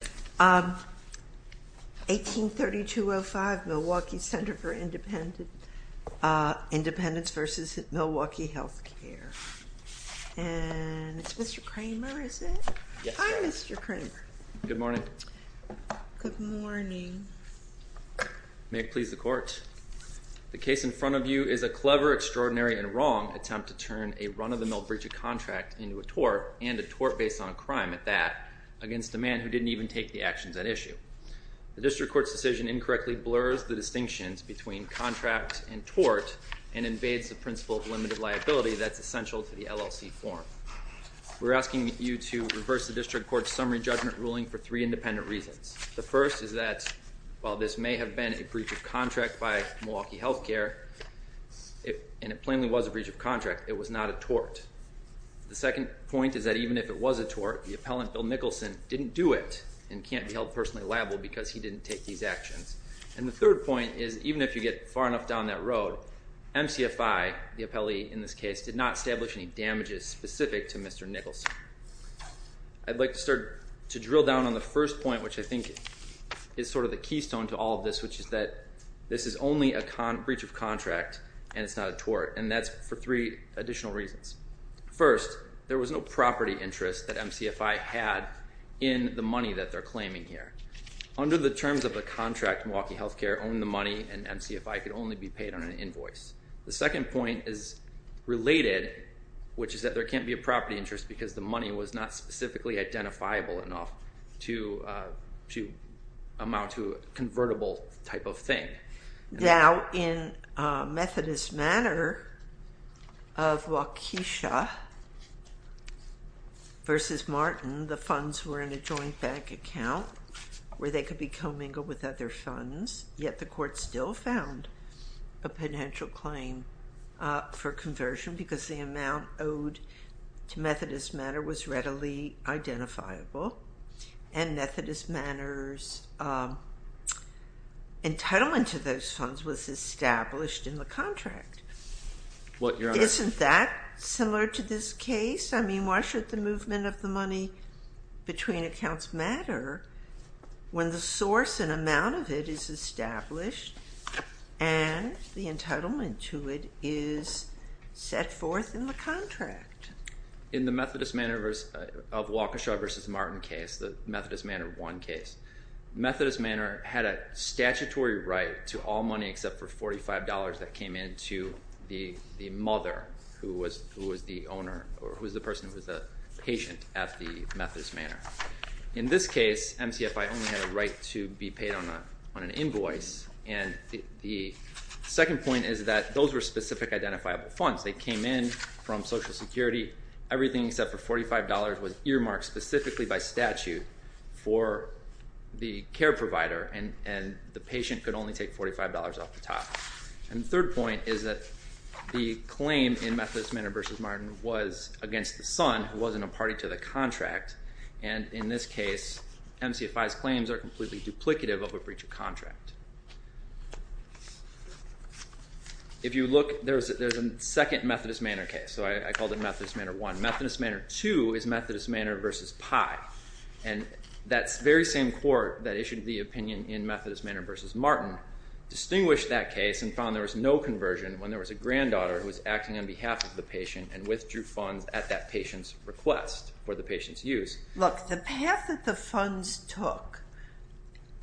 183205 Milwaukee Center for Independence v. Milwaukee Health Care And it's Mr. Kramer, is it? Yes, ma'am. Hi, Mr. Kramer. Good morning. Good morning. May it please the court. The case in front of you is a clever, extraordinary, and wrong attempt to turn a run-of-the-mill breach of contract into a tort, and a tort based on a crime at that, against a man who didn't even take the actions at issue. The district court's decision incorrectly blurs the distinctions between contract and tort, and invades the principle of limited liability that's essential to the LLC form. We're asking you to reverse the district court's summary judgment ruling for three independent reasons. The first is that while this may have been a breach of contract by Milwaukee Health Care, and it plainly was a breach of contract, it was not a tort. The second point is that even if it was a tort, the appellant, Bill Nicholson, didn't do it and can't be held personally liable because he didn't take these actions. And the third point is even if you get far enough down that road, MCFI, the appellee in this case, did not establish any damages specific to Mr. Nicholson. I'd like to start to drill down on the first point, which I think is sort of the keystone to all of this, which is that this is only a breach of contract and it's not a tort, and that's for three additional reasons. First, there was no property interest that MCFI had in the money that they're claiming here. Under the terms of the contract, Milwaukee Health Care owned the money and MCFI could only be paid on an invoice. The second point is related, which is that there can't be a property interest because the money was not specifically identifiable enough to amount to a convertible type of thing. Now, in Methodist Manor of Waukesha v. Martin, the funds were in a joint bank account where they could be commingled with other funds, yet the court still found a potential claim for conversion because the amount owed to Methodist Manor was readily identifiable. And Methodist Manor's entitlement to those funds was established in the contract. Isn't that similar to this case? I mean, why should the movement of the money between accounts matter when the source and amount of it is established and the entitlement to it is set forth in the contract? In the Methodist Manor of Waukesha v. Martin case, the Methodist Manor 1 case, Methodist Manor had a statutory right to all money except for $45 that came in to the mother, who was the person who was the patient at the Methodist Manor. In this case, MCFI only had a right to be paid on an invoice, and the second point is that those were specific identifiable funds. They came in from Social Security. Everything except for $45 was earmarked specifically by statute for the care provider, and the patient could only take $45 off the top. And the third point is that the claim in Methodist Manor v. Martin was against the son, who wasn't a party to the contract. And in this case, MCFI's claims are completely duplicative of a breach of contract. If you look, there's a second Methodist Manor case, so I called it Methodist Manor 1. Methodist Manor 2 is Methodist Manor v. Pye, and that very same court that issued the opinion in Methodist Manor v. Martin distinguished that case and found there was no conversion when there was a granddaughter who was acting on behalf of the patient and withdrew funds at that patient's request, or the patient's use. Look, the path that the funds took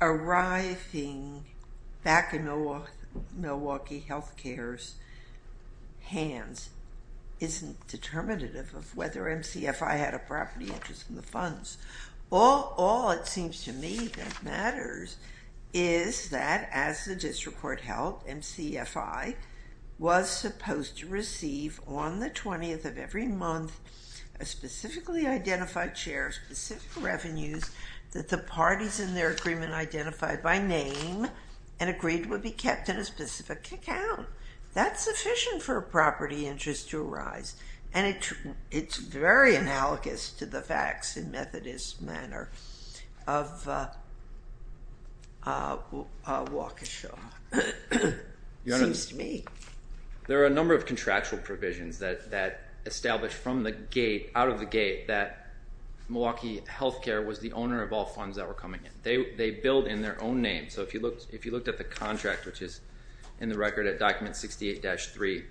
arriving back in Milwaukee Health Care's hands isn't determinative of whether MCFI had a property interest in the funds. All it seems to me that matters is that, as the district court held, MCFI was supposed to receive on the 20th of every month a specifically identified share of specific revenues that the parties in their agreement identified by name and agreed would be kept in a specific account. That's sufficient for a property interest to arise, and it's very analogous to the facts in Methodist Manor of Waukesha, it seems to me. There are a number of contractual provisions that establish from the gate, out of the gate, that Milwaukee Health Care was the owner of all funds that were coming in. They billed in their own name. So if you looked at the contract, which is in the record at Document 68-3,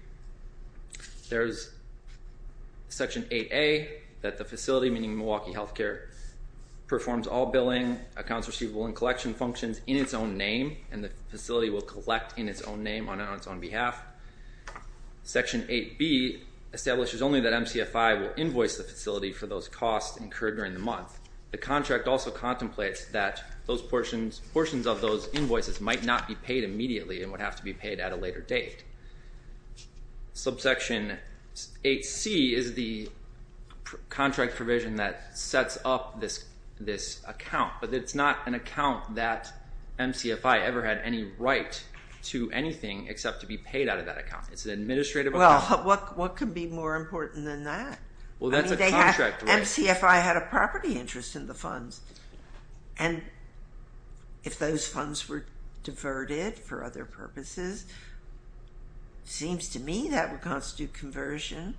there's Section 8A that the facility, meaning Milwaukee Health Care, performs all billing, accounts receivable, and collection functions in its own name, and the facility will collect in its own name on its own behalf. Section 8B establishes only that MCFI will invoice the facility for those costs incurred during the month. The contract also contemplates that those portions of those invoices might not be paid immediately and would have to be paid at a later date. Subsection 8C is the contract provision that sets up this account, but it's not an account that MCFI ever had any right to anything except to be paid out of that account. It's an administrative account. Well, what could be more important than that? Well, that's a contract right. MCFI had a property interest in the funds, and if those funds were diverted for other purposes, it seems to me that would constitute conversion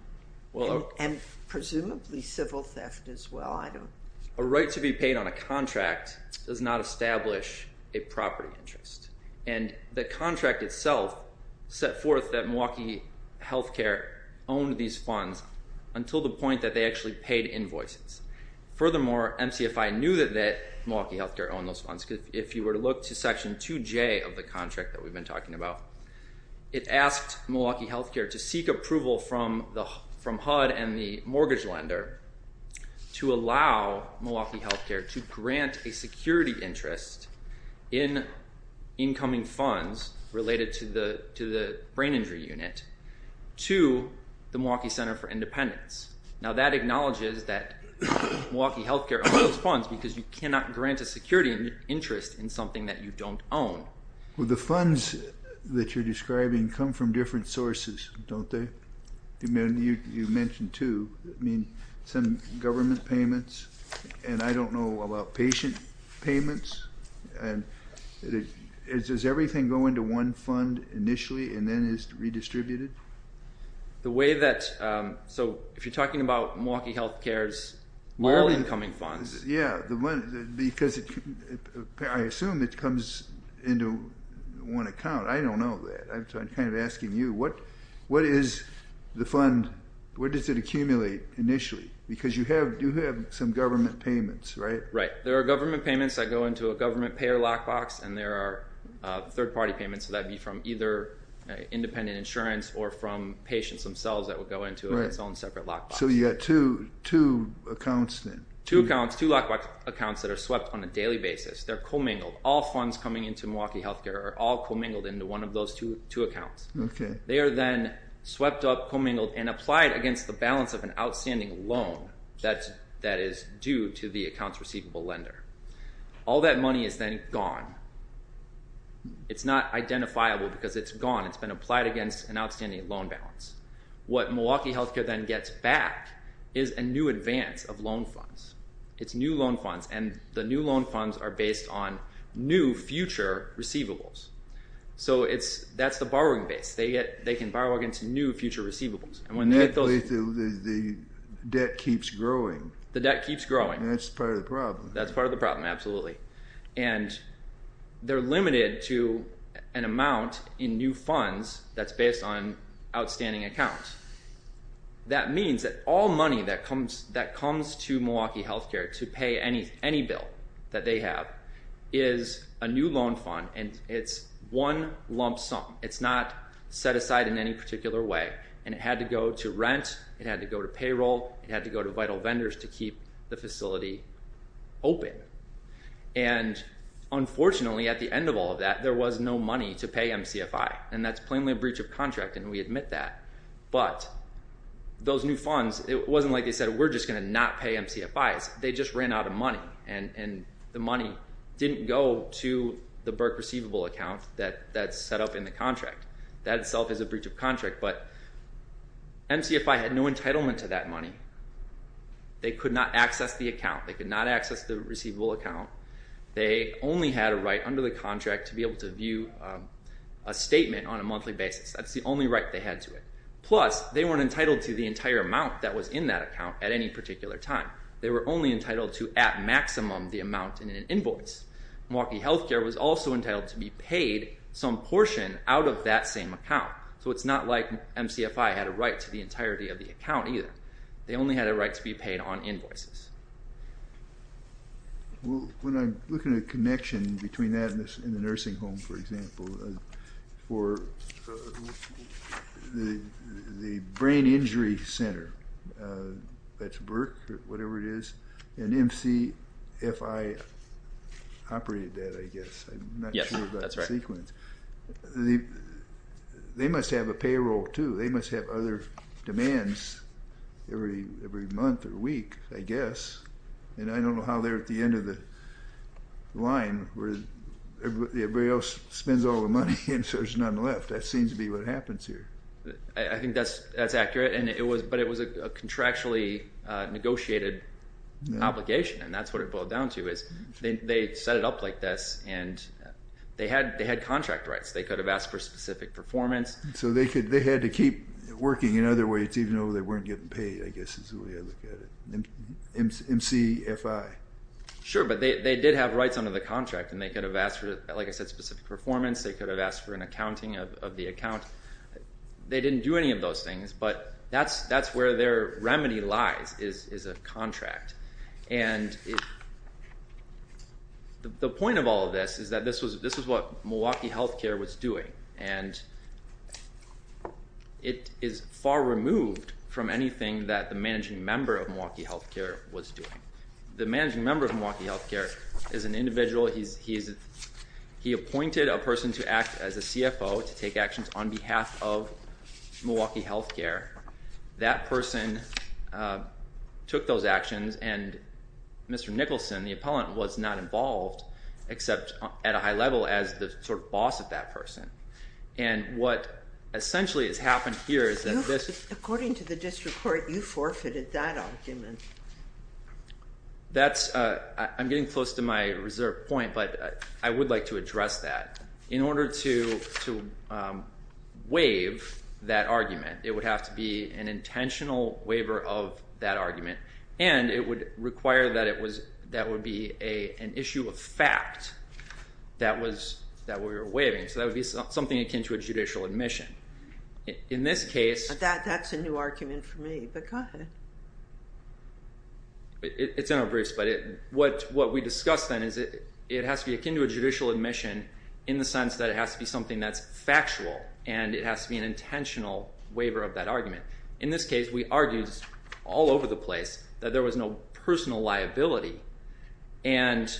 and presumably civil theft as well. A right to be paid on a contract does not establish a property interest, and the contract itself set forth that Milwaukee Health Care owned these funds until the point that they actually paid invoices. Furthermore, MCFI knew that Milwaukee Health Care owned those funds. If you were to look to Section 2J of the contract that we've been talking about, it asked Milwaukee Health Care to seek approval from HUD and the mortgage lender to allow Milwaukee Health Care to grant a security interest in incoming funds related to the brain injury unit to the Milwaukee Center for Independence. Now, that acknowledges that Milwaukee Health Care owns those funds because you cannot grant a security interest in something that you don't own. Well, the funds that you're describing come from different sources, don't they? You mentioned two. I mean, some government payments, and I don't know about patient payments. And does everything go into one fund initially and then is redistributed? So if you're talking about Milwaukee Health Care's all incoming funds. Yeah, because I assume it comes into one account. I don't know that. I'm kind of asking you, what is the fund? Where does it accumulate initially? Because you have some government payments, right? Right. There are government payments that go into a government payer lockbox, and there are third-party payments that would be from either independent insurance or from patients themselves that would go into its own separate lockbox. So you've got two accounts then. Two accounts, two lockbox accounts that are swept on a daily basis. They're commingled. All funds coming into Milwaukee Health Care are all commingled into one of those two accounts. They are then swept up, commingled, and applied against the balance of an outstanding loan that is due to the account's receivable lender. All that money is then gone. It's not identifiable because it's gone. It's been applied against an outstanding loan balance. What Milwaukee Health Care then gets back is a new advance of loan funds. It's new loan funds, and the new loan funds are based on new future receivables. So that's the borrowing base. They can borrow against new future receivables. The debt keeps growing. The debt keeps growing. That's part of the problem. That's part of the problem, absolutely. And they're limited to an amount in new funds that's based on outstanding accounts. That means that all money that comes to Milwaukee Health Care to pay any bill that they have is a new loan fund, and it's one lump sum. It's not set aside in any particular way. And it had to go to rent. It had to go to payroll. It had to go to vital vendors to keep the facility open. And unfortunately, at the end of all of that, there was no money to pay MCFI. And that's plainly a breach of contract, and we admit that. But those new funds, it wasn't like they said, we're just going to not pay MCFIs. They just ran out of money, and the money didn't go to the Berk receivable account that's set up in the contract. That itself is a breach of contract. But MCFI had no entitlement to that money. They could not access the account. They could not access the receivable account. They only had a right under the contract to be able to view a statement on a monthly basis. That's the only right they had to it. Plus, they weren't entitled to the entire amount that was in that account at any particular time. They were only entitled to at maximum the amount in an invoice. Milwaukee Health Care was also entitled to be paid some portion out of that same account. So it's not like MCFI had a right to the entirety of the account either. They only had a right to be paid on invoices. When I look at a connection between that and the nursing home, for example, for the brain injury center, that's Berk or whatever it is, and MCFI operated that, I guess. I'm not sure of that sequence. They must have a payroll too. They must have other demands every month or week, I guess. And I don't know how they're at the end of the line where everybody else spends all the money and so there's none left. That seems to be what happens here. I think that's accurate, but it was a contractually negotiated obligation, and that's what it boiled down to is they set it up like this, and they had contract rights. They could have asked for specific performance. So they had to keep working in other ways even though they weren't getting paid, I guess, is the way I look at it. MCFI. Sure, but they did have rights under the contract, and they could have asked for, like I said, specific performance. They could have asked for an accounting of the account. They didn't do any of those things, but that's where their remedy lies is a contract. And the point of all of this is that this is what Milwaukee Health Care was doing, and it is far removed from anything that the managing member of Milwaukee Health Care was doing. The managing member of Milwaukee Health Care is an individual. He appointed a person to act as a CFO to take actions on behalf of Milwaukee Health Care. That person took those actions, and Mr. Nicholson, the appellant, was not involved except at a high level as the sort of boss of that person. And what essentially has happened here is that this— According to the district court, you forfeited that argument. That's—I'm getting close to my reserve point, but I would like to address that. In order to waive that argument, it would have to be an intentional waiver of that argument, and it would require that it was—that would be an issue of fact that we were waiving. So that would be something akin to a judicial admission. In this case— That's a new argument for me, but go ahead. It's in our briefs, but what we discussed then is it has to be akin to a judicial admission in the sense that it has to be something that's factual, and it has to be an intentional waiver of that argument. In this case, we argued all over the place that there was no personal liability, and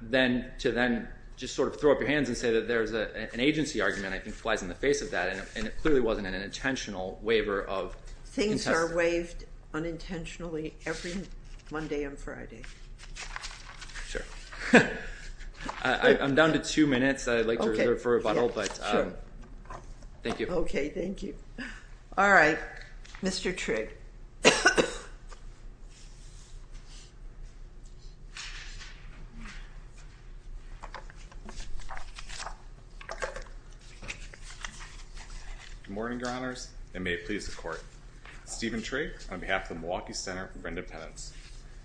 then to then just sort of throw up your hands and say that there's an agency argument, I think, flies in the face of that, and it clearly wasn't an intentional waiver of— Things are waived unintentionally every Monday and Friday. Sure. I'm down to two minutes. I'd like to reserve a bottle, but thank you. Okay. Thank you. All right. Mr. Trigg. Good morning, Your Honors, and may it please the Court. Stephen Trigg on behalf of the Milwaukee Center for Independence.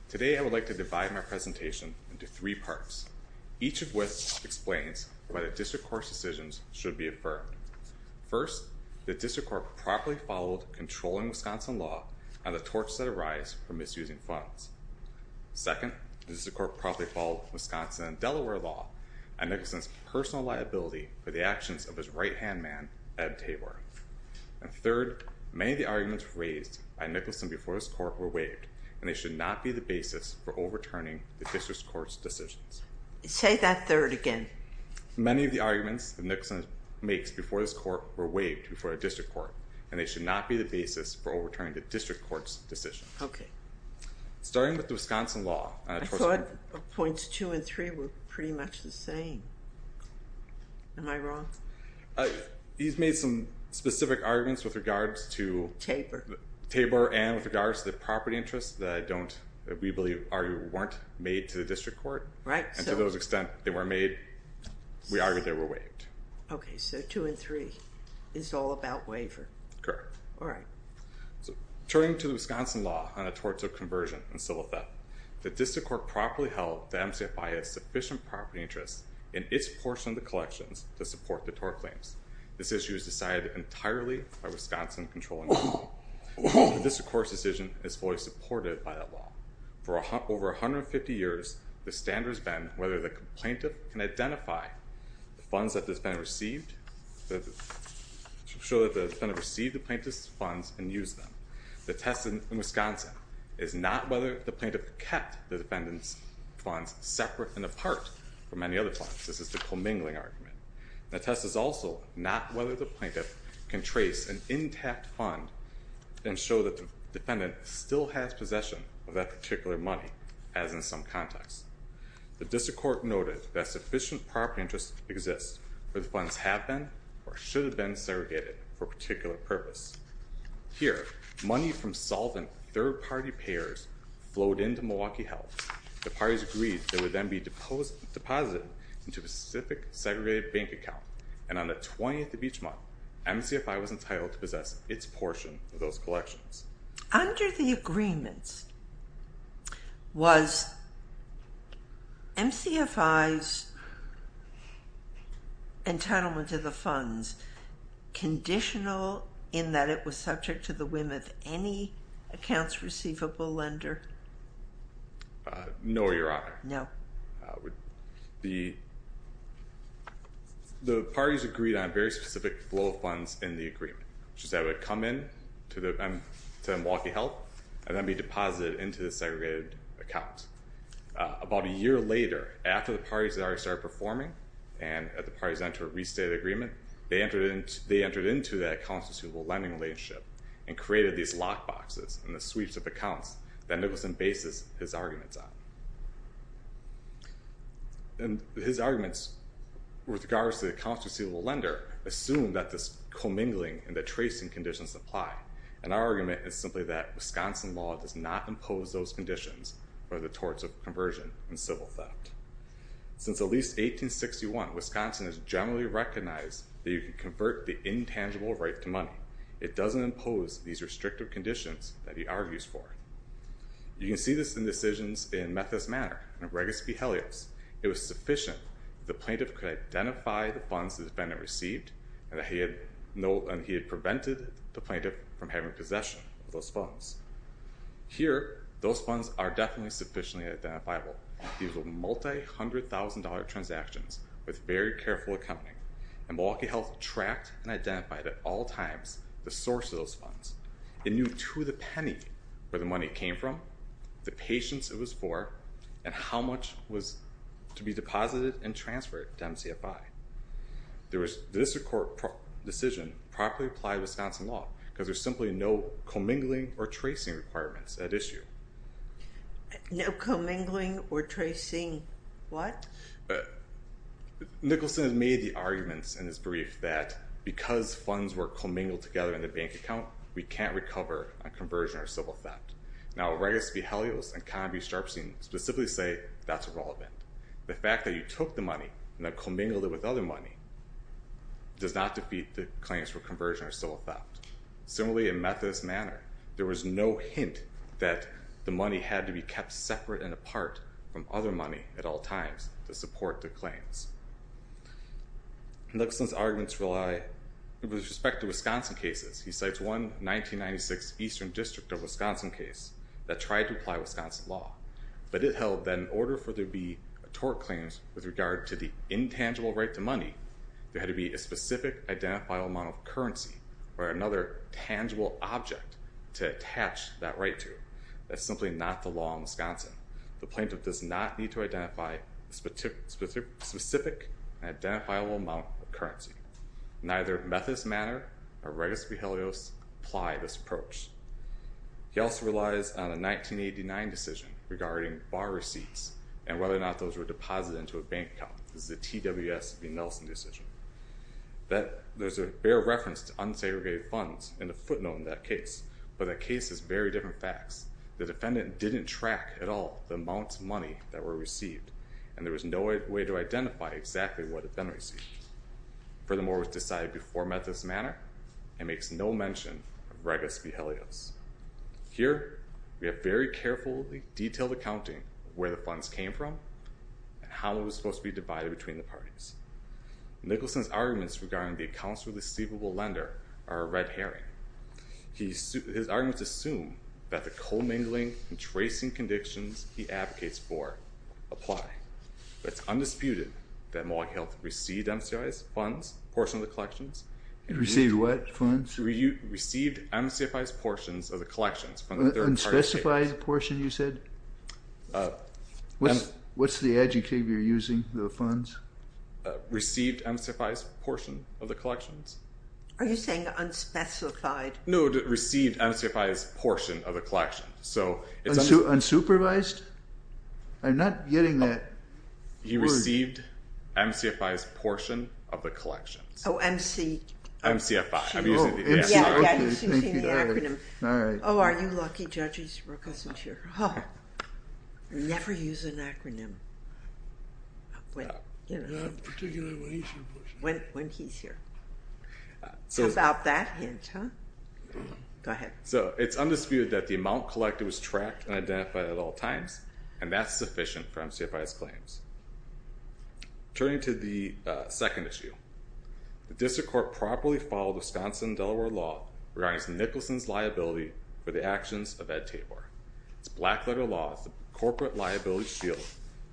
Today, I would like to divide my presentation into three parts. Each of which explains why the District Court's decisions should be affirmed. First, the District Court properly followed controlling Wisconsin law on the torches that arise from misusing funds. Second, the District Court properly followed Wisconsin and Delaware law on Nicholson's personal liability for the actions of his right-hand man, Eb Tabor. And third, many of the arguments raised by Nicholson before his court were waived, and they should not be the basis for overturning the District Court's decisions. Say that third again. Many of the arguments that Nicholson makes before his court were waived before the District Court, and they should not be the basis for overturning the District Court's decisions. Okay. Starting with the Wisconsin law— I thought points two and three were pretty much the same. Am I wrong? He's made some specific arguments with regards to— Tabor. Tabor and with regards to the property interests that we believe weren't made to the District Court. Right. And to those extent they were made, we argue they were waived. Okay, so two and three. It's all about waiver. Correct. All right. Turning to the Wisconsin law on the torts of conversion and civil theft, the District Court properly held that MCFI had sufficient property interests in its portion of the collections to support the tort claims. This issue is decided entirely by Wisconsin controlling the law. The District Court's decision is fully supported by that law. For over 150 years, the standard has been whether the plaintiff can identify the funds that the defendant received— show that the defendant received the plaintiff's funds and used them. The test in Wisconsin is not whether the plaintiff kept the defendant's funds separate and apart from any other funds. This is the commingling argument. The test is also not whether the plaintiff can trace an intact fund and show that the defendant still has possession of that particular money, as in some contexts. The District Court noted that sufficient property interests exist where the funds have been or should have been segregated for a particular purpose. Here, money from solvent third-party payers flowed into Milwaukee Health. The parties agreed that it would then be deposited into a specific segregated bank account, and on the 20th of each month, MCFI was entitled to possess its portion of those collections. Under the agreements, was MCFI's entitlement to the funds conditional in that it was subject to the whim of any accounts receivable lender? No, Your Honor. No. The parties agreed on a very specific flow of funds in the agreement, which is that it would come in to Milwaukee Health and then be deposited into the segregated account. About a year later, after the parties had already started performing, and the parties entered into a restated agreement, they entered into that accounts receivable lending relationship and created these lockboxes and the sweeps of accounts that Nicholson bases his arguments on. His arguments with regards to the accounts receivable lender assume that this commingling and the tracing conditions apply, and our argument is simply that Wisconsin law does not impose those conditions for the torts of conversion and civil theft. Since at least 1861, Wisconsin has generally recognized that you can convert the intangible right to money. It doesn't impose these restrictive conditions that he argues for. You can see this in decisions in Methis Manor and Regas v. Helios. It was sufficient that the plaintiff could identify the funds the defendant received, and he had prevented the plaintiff from having possession of those funds. Here, those funds are definitely sufficiently identifiable. These are multi-hundred-thousand-dollar transactions with very careful accounting, and Milwaukee Health tracked and identified at all times the source of those funds. It knew to the penny where the money came from, the patients it was for, and how much was to be deposited and transferred to MCFI. The district court decision properly applied Wisconsin law because there's simply no commingling or tracing requirements at issue. No commingling or tracing what? Nicholson made the arguments in his brief that because funds were commingled together in the bank account, we can't recover on conversion or civil theft. Now, Regas v. Helios and Conbee-Sharpstein specifically say that's irrelevant. The fact that you took the money and then commingled it with other money does not defeat the claims for conversion or civil theft. Similarly, in Methis Manor, there was no hint that the money had to be kept separate and apart from other money at all times to support the claims. Nicholson's arguments rely with respect to Wisconsin cases. He cites one 1996 Eastern District of Wisconsin case that tried to apply Wisconsin law, but it held that in order for there to be a tort claim with regard to the intangible right to money, there had to be a specific identifiable amount of currency or another tangible object to attach that right to. That's simply not the law in Wisconsin. The plaintiff does not need to identify a specific and identifiable amount of currency. Neither Methis Manor or Regas v. Helios apply this approach. He also relies on a 1989 decision regarding borrow receipts and whether or not those were deposited into a bank account. This is a TWS v. Nelson decision. There's a bare reference to unsegregated funds and a footnote in that case, but that case is very different facts. The defendant didn't track at all the amounts of money that were received, and there was no way to identify exactly what had been received. Furthermore, it was decided before Methis Manor and makes no mention of Regas v. Helios. Here, we have very carefully detailed accounting of where the funds came from and how they were supposed to be divided between the parties. Nicholson's arguments regarding the accounts for the receivable lender are a red herring. His arguments assume that the co-mingling and tracing conditions he advocates for apply. It's undisputed that Mohawk Health received MCFI's funds, portion of the collections. Received what funds? Received MCFI's portions of the collections. Unspecified portion, you said? What's the adjective you're using, the funds? Received MCFI's portion of the collections. Are you saying unspecified? No, received MCFI's portion of the collections. Unsupervised? I'm not getting that. He received MCFI's portion of the collections. Oh, MC. MCFI, I'm using the acronym. Oh, are you lucky, Judges, Regas is here. Never use an acronym. Not particularly when he's here. When he's here. How about that hint, huh? Go ahead. So it's undisputed that the amount collected was tracked and identified at all times and that's sufficient for MCFI's claims. Turning to the second issue, the District Court properly followed Wisconsin and Delaware law regarding Nicholson's liability for the actions of Ed Tabor. It's black letter law. The corporate liability shield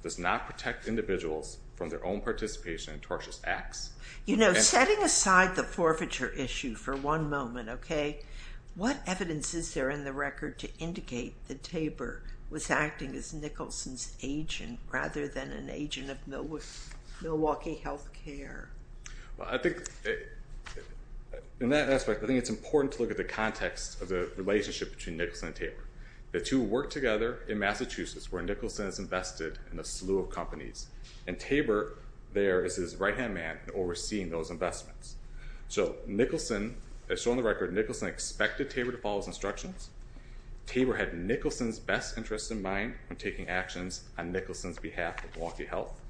does not protect individuals from their own participation in tortious acts. You know, setting aside the forfeiture issue for one moment, okay, what evidence is there in the record to indicate that Tabor was acting as Nicholson's agent rather than an agent of Milwaukee Health Care? Well, I think in that aspect, I think it's important to look at the context of the relationship between Nicholson and Tabor. The two worked together in Massachusetts where Nicholson has invested in a slew of companies and Tabor there is his right-hand man overseeing those investments. So Nicholson, as shown in the record, Nicholson expected Tabor to follow his instructions. Tabor had Nicholson's best interests in mind when taking actions on Nicholson's behalf at Milwaukee Health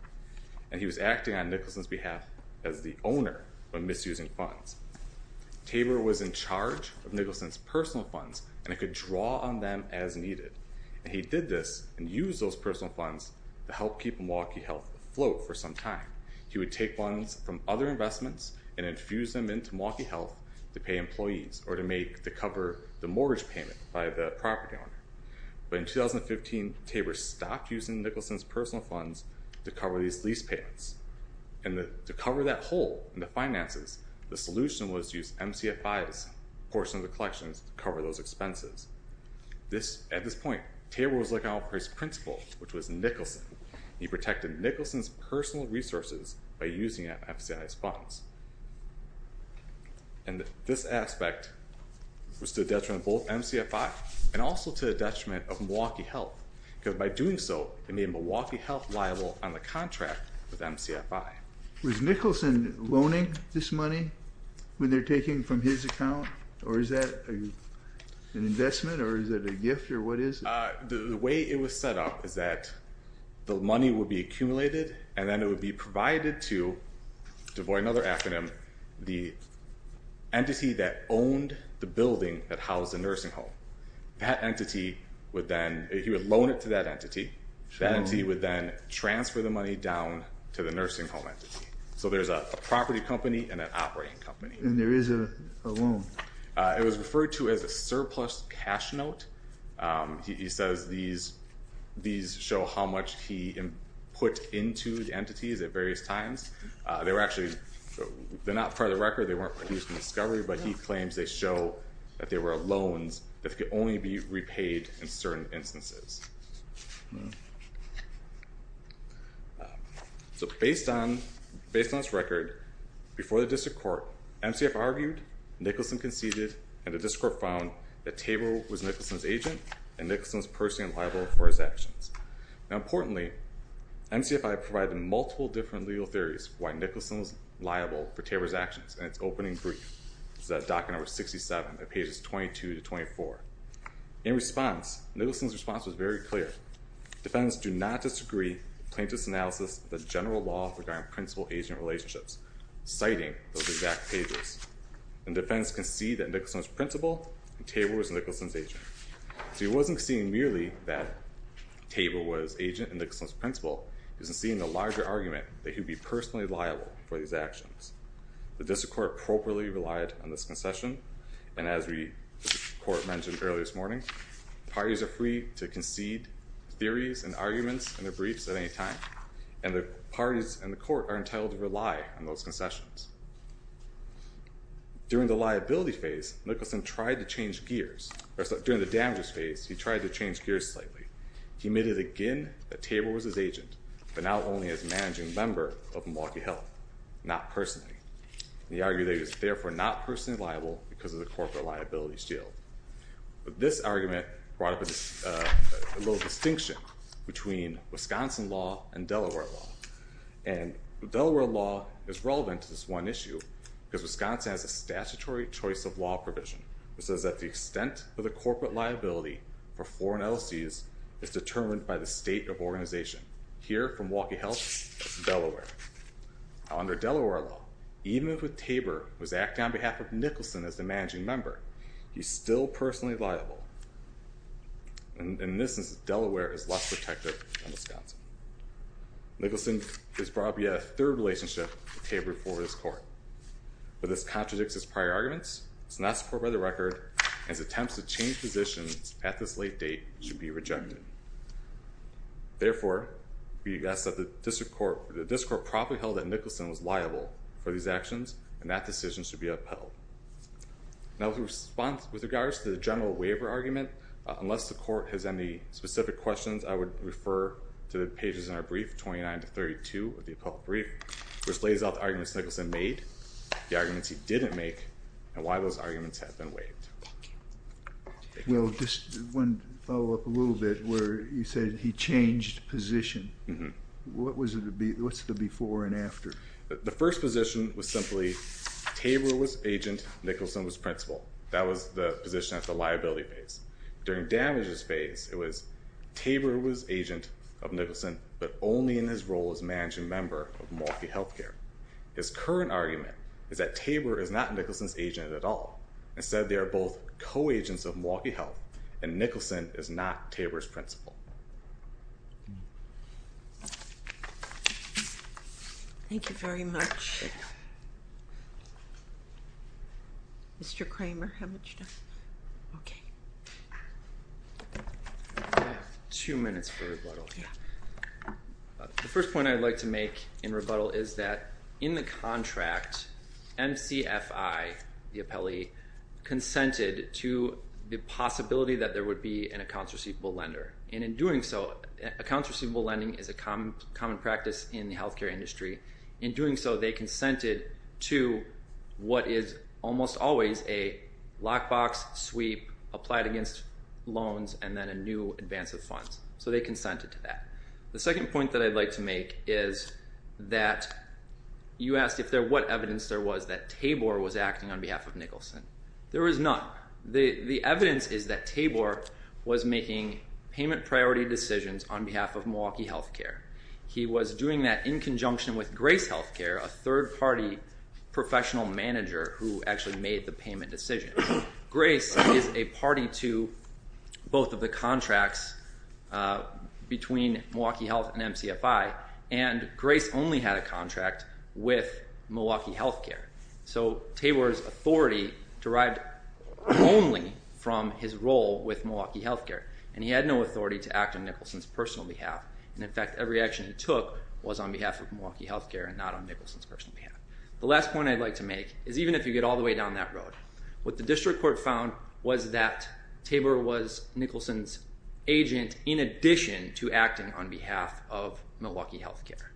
and he was acting on Nicholson's behalf as the owner when misusing funds. Tabor was in charge of Nicholson's personal funds and could draw on them as needed. He did this and used those personal funds to help keep Milwaukee Health afloat for some time. He would take funds from other investments and infuse them into Milwaukee Health to pay employees or to cover the mortgage payment by the property owner. But in 2015, Tabor stopped using Nicholson's personal funds to cover these lease payments. And to cover that hole in the finances, the solution was to use MCFI's portion of the collections to cover those expenses. At this point, Tabor was looking out for his principal, which was Nicholson. He protected Nicholson's personal resources by using MCFI's funds. And this aspect was to the detriment of both MCFI and also to the detriment of Milwaukee Health because by doing so, it made Milwaukee Health liable on the contract with MCFI. Was Nicholson loaning this money when they're taking from his account? Or is that an investment, or is that a gift, or what is it? The way it was set up is that the money would be accumulated and then it would be provided to, to avoid another acronym, the entity that owned the building that housed the nursing home. That entity would then, he would loan it to that entity. That entity would then transfer the money down to the nursing home entity. So there's a property company and an operating company. And there is a loan. It was referred to as a surplus cash note. He says these show how much he put into the entities at various times. They were actually, they're not part of the record, they weren't produced in discovery, but he claims they show that they were loans that could only be repaid in certain instances. So based on, based on this record, before the district court, MCFI argued, Nicholson conceded, and the district court found that Tabor was Nicholson's agent and Nicholson was personally liable for his actions. Now importantly, MCFI provided multiple different legal theories why Nicholson was liable for Tabor's actions. In its opening brief, it's at document number 67, pages 22 to 24. In response, Nicholson's response was very clear. Defendants do not disagree with plaintiff's analysis of the general law regarding principal-agent relationships, citing those exact pages. And defendants concede that Nicholson was principal and Tabor was Nicholson's agent. So he wasn't seeing merely that Tabor was agent and Nicholson was principal. He was seeing the larger argument that he would be personally liable for these actions. The district court appropriately relied on this concession, and as the court mentioned earlier this morning, parties are free to concede theories and arguments in their briefs at any time, and the parties and the court are entitled to rely on those concessions. During the liability phase, Nicholson tried to change gears. During the damages phase, he tried to change gears slightly. He admitted again that Tabor was his agent, but not only as a managing member of Milwaukee Health, not personally. He argued that he was therefore not personally liable because of the corporate liability shield. But this argument brought up a little distinction between Wisconsin law and Delaware law. And Delaware law is relevant to this one issue because Wisconsin has a statutory choice of law provision that says that the extent of the corporate liability for foreign LLCs is determined by the state of organization. Here, from Milwaukee Health, it's Delaware. Under Delaware law, even if a Tabor was acting on behalf of Nicholson as the managing member, he's still personally liable. And in this instance, Delaware is less protective than Wisconsin. Nicholson has brought up yet a third relationship with Tabor before this court. But this contradicts his prior arguments, it's not supported by the record, and his attempts to change positions at this late date should be rejected. Therefore, we ask that the district court properly held that Nicholson was liable for these actions, and that decision should be upheld. Now, in response with regards to the general waiver argument, unless the court has any specific questions, I would refer to the pages in our brief, 29 to 32 of the appellate brief, which lays out the arguments Nicholson made, the arguments he didn't make, and why those arguments have been waived. Well, just one follow-up a little bit where you said he changed position. What's the before and after? The first position was simply Tabor was agent, Nicholson was principal. That was the position at the liability phase. During damages phase, it was Tabor was agent of Nicholson, but only in his role as managing member of Milwaukee Health Care. His current argument is that Tabor is not Nicholson's agent at all. Instead, they are both co-agents of Milwaukee Health, and Nicholson is not Tabor's principal. Thank you very much. Mr. Kramer, how much time? Okay. Two minutes for rebuttal. The first point I'd like to make in rebuttal is that in the contract, MCFI, the appellee, consented to the possibility that there would be an accounts receivable lender, and in doing so, accounts receivable lending is a common practice in the health care industry. In doing so, they consented to what is almost always a lockbox sweep applied against loans and then a new advance of funds, so they consented to that. The second point that I'd like to make is that you asked what evidence there was that Tabor was acting on behalf of Nicholson. There is none. The evidence is that Tabor was making payment priority decisions on behalf of Milwaukee Health Care. He was doing that in conjunction with Grace Health Care, a third-party professional manager who actually made the payment decision. Grace is a party to both of the contracts between Milwaukee Health and MCFI, and Grace only had a contract with Milwaukee Health Care, so Tabor's authority derived only from his role with Milwaukee Health Care, and he had no authority to act on Nicholson's personal behalf, and, in fact, every action he took was on behalf of Milwaukee Health Care and not on Nicholson's personal behalf. The last point I'd like to make is even if you get all the way down that road, what the district court found was that Tabor was Nicholson's agent in addition to acting on behalf of Milwaukee Health Care,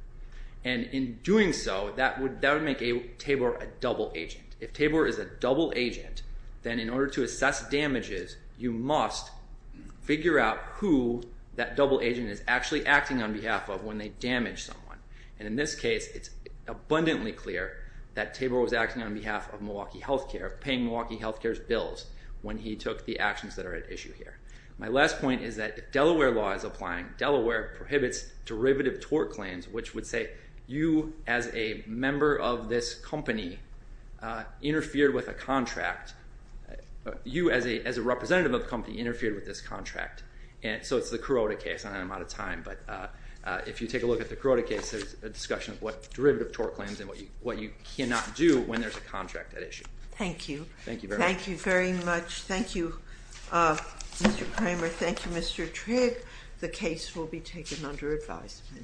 and in doing so, that would make Tabor a double agent. If Tabor is a double agent, then in order to assess damages, you must figure out who that double agent is actually acting on behalf of when they damage someone, and in this case, it's abundantly clear that Tabor was acting on behalf of Milwaukee Health Care, paying Milwaukee Health Care's bills when he took the actions that are at issue here. My last point is that if Delaware law is applying, Delaware prohibits derivative tort claims, which would say you as a member of this company interfered with a contract, you as a representative of the company interfered with this contract, so it's the Carota case, and I'm out of time, but if you take a look at the Carota case, there's a discussion of what derivative tort claims and what you cannot do when there's a contract at issue. Thank you. Thank you very much. Thank you very much. Thank you, Mr. Kramer. Thank you, Mr. Trigg. The case will be taken under advisement.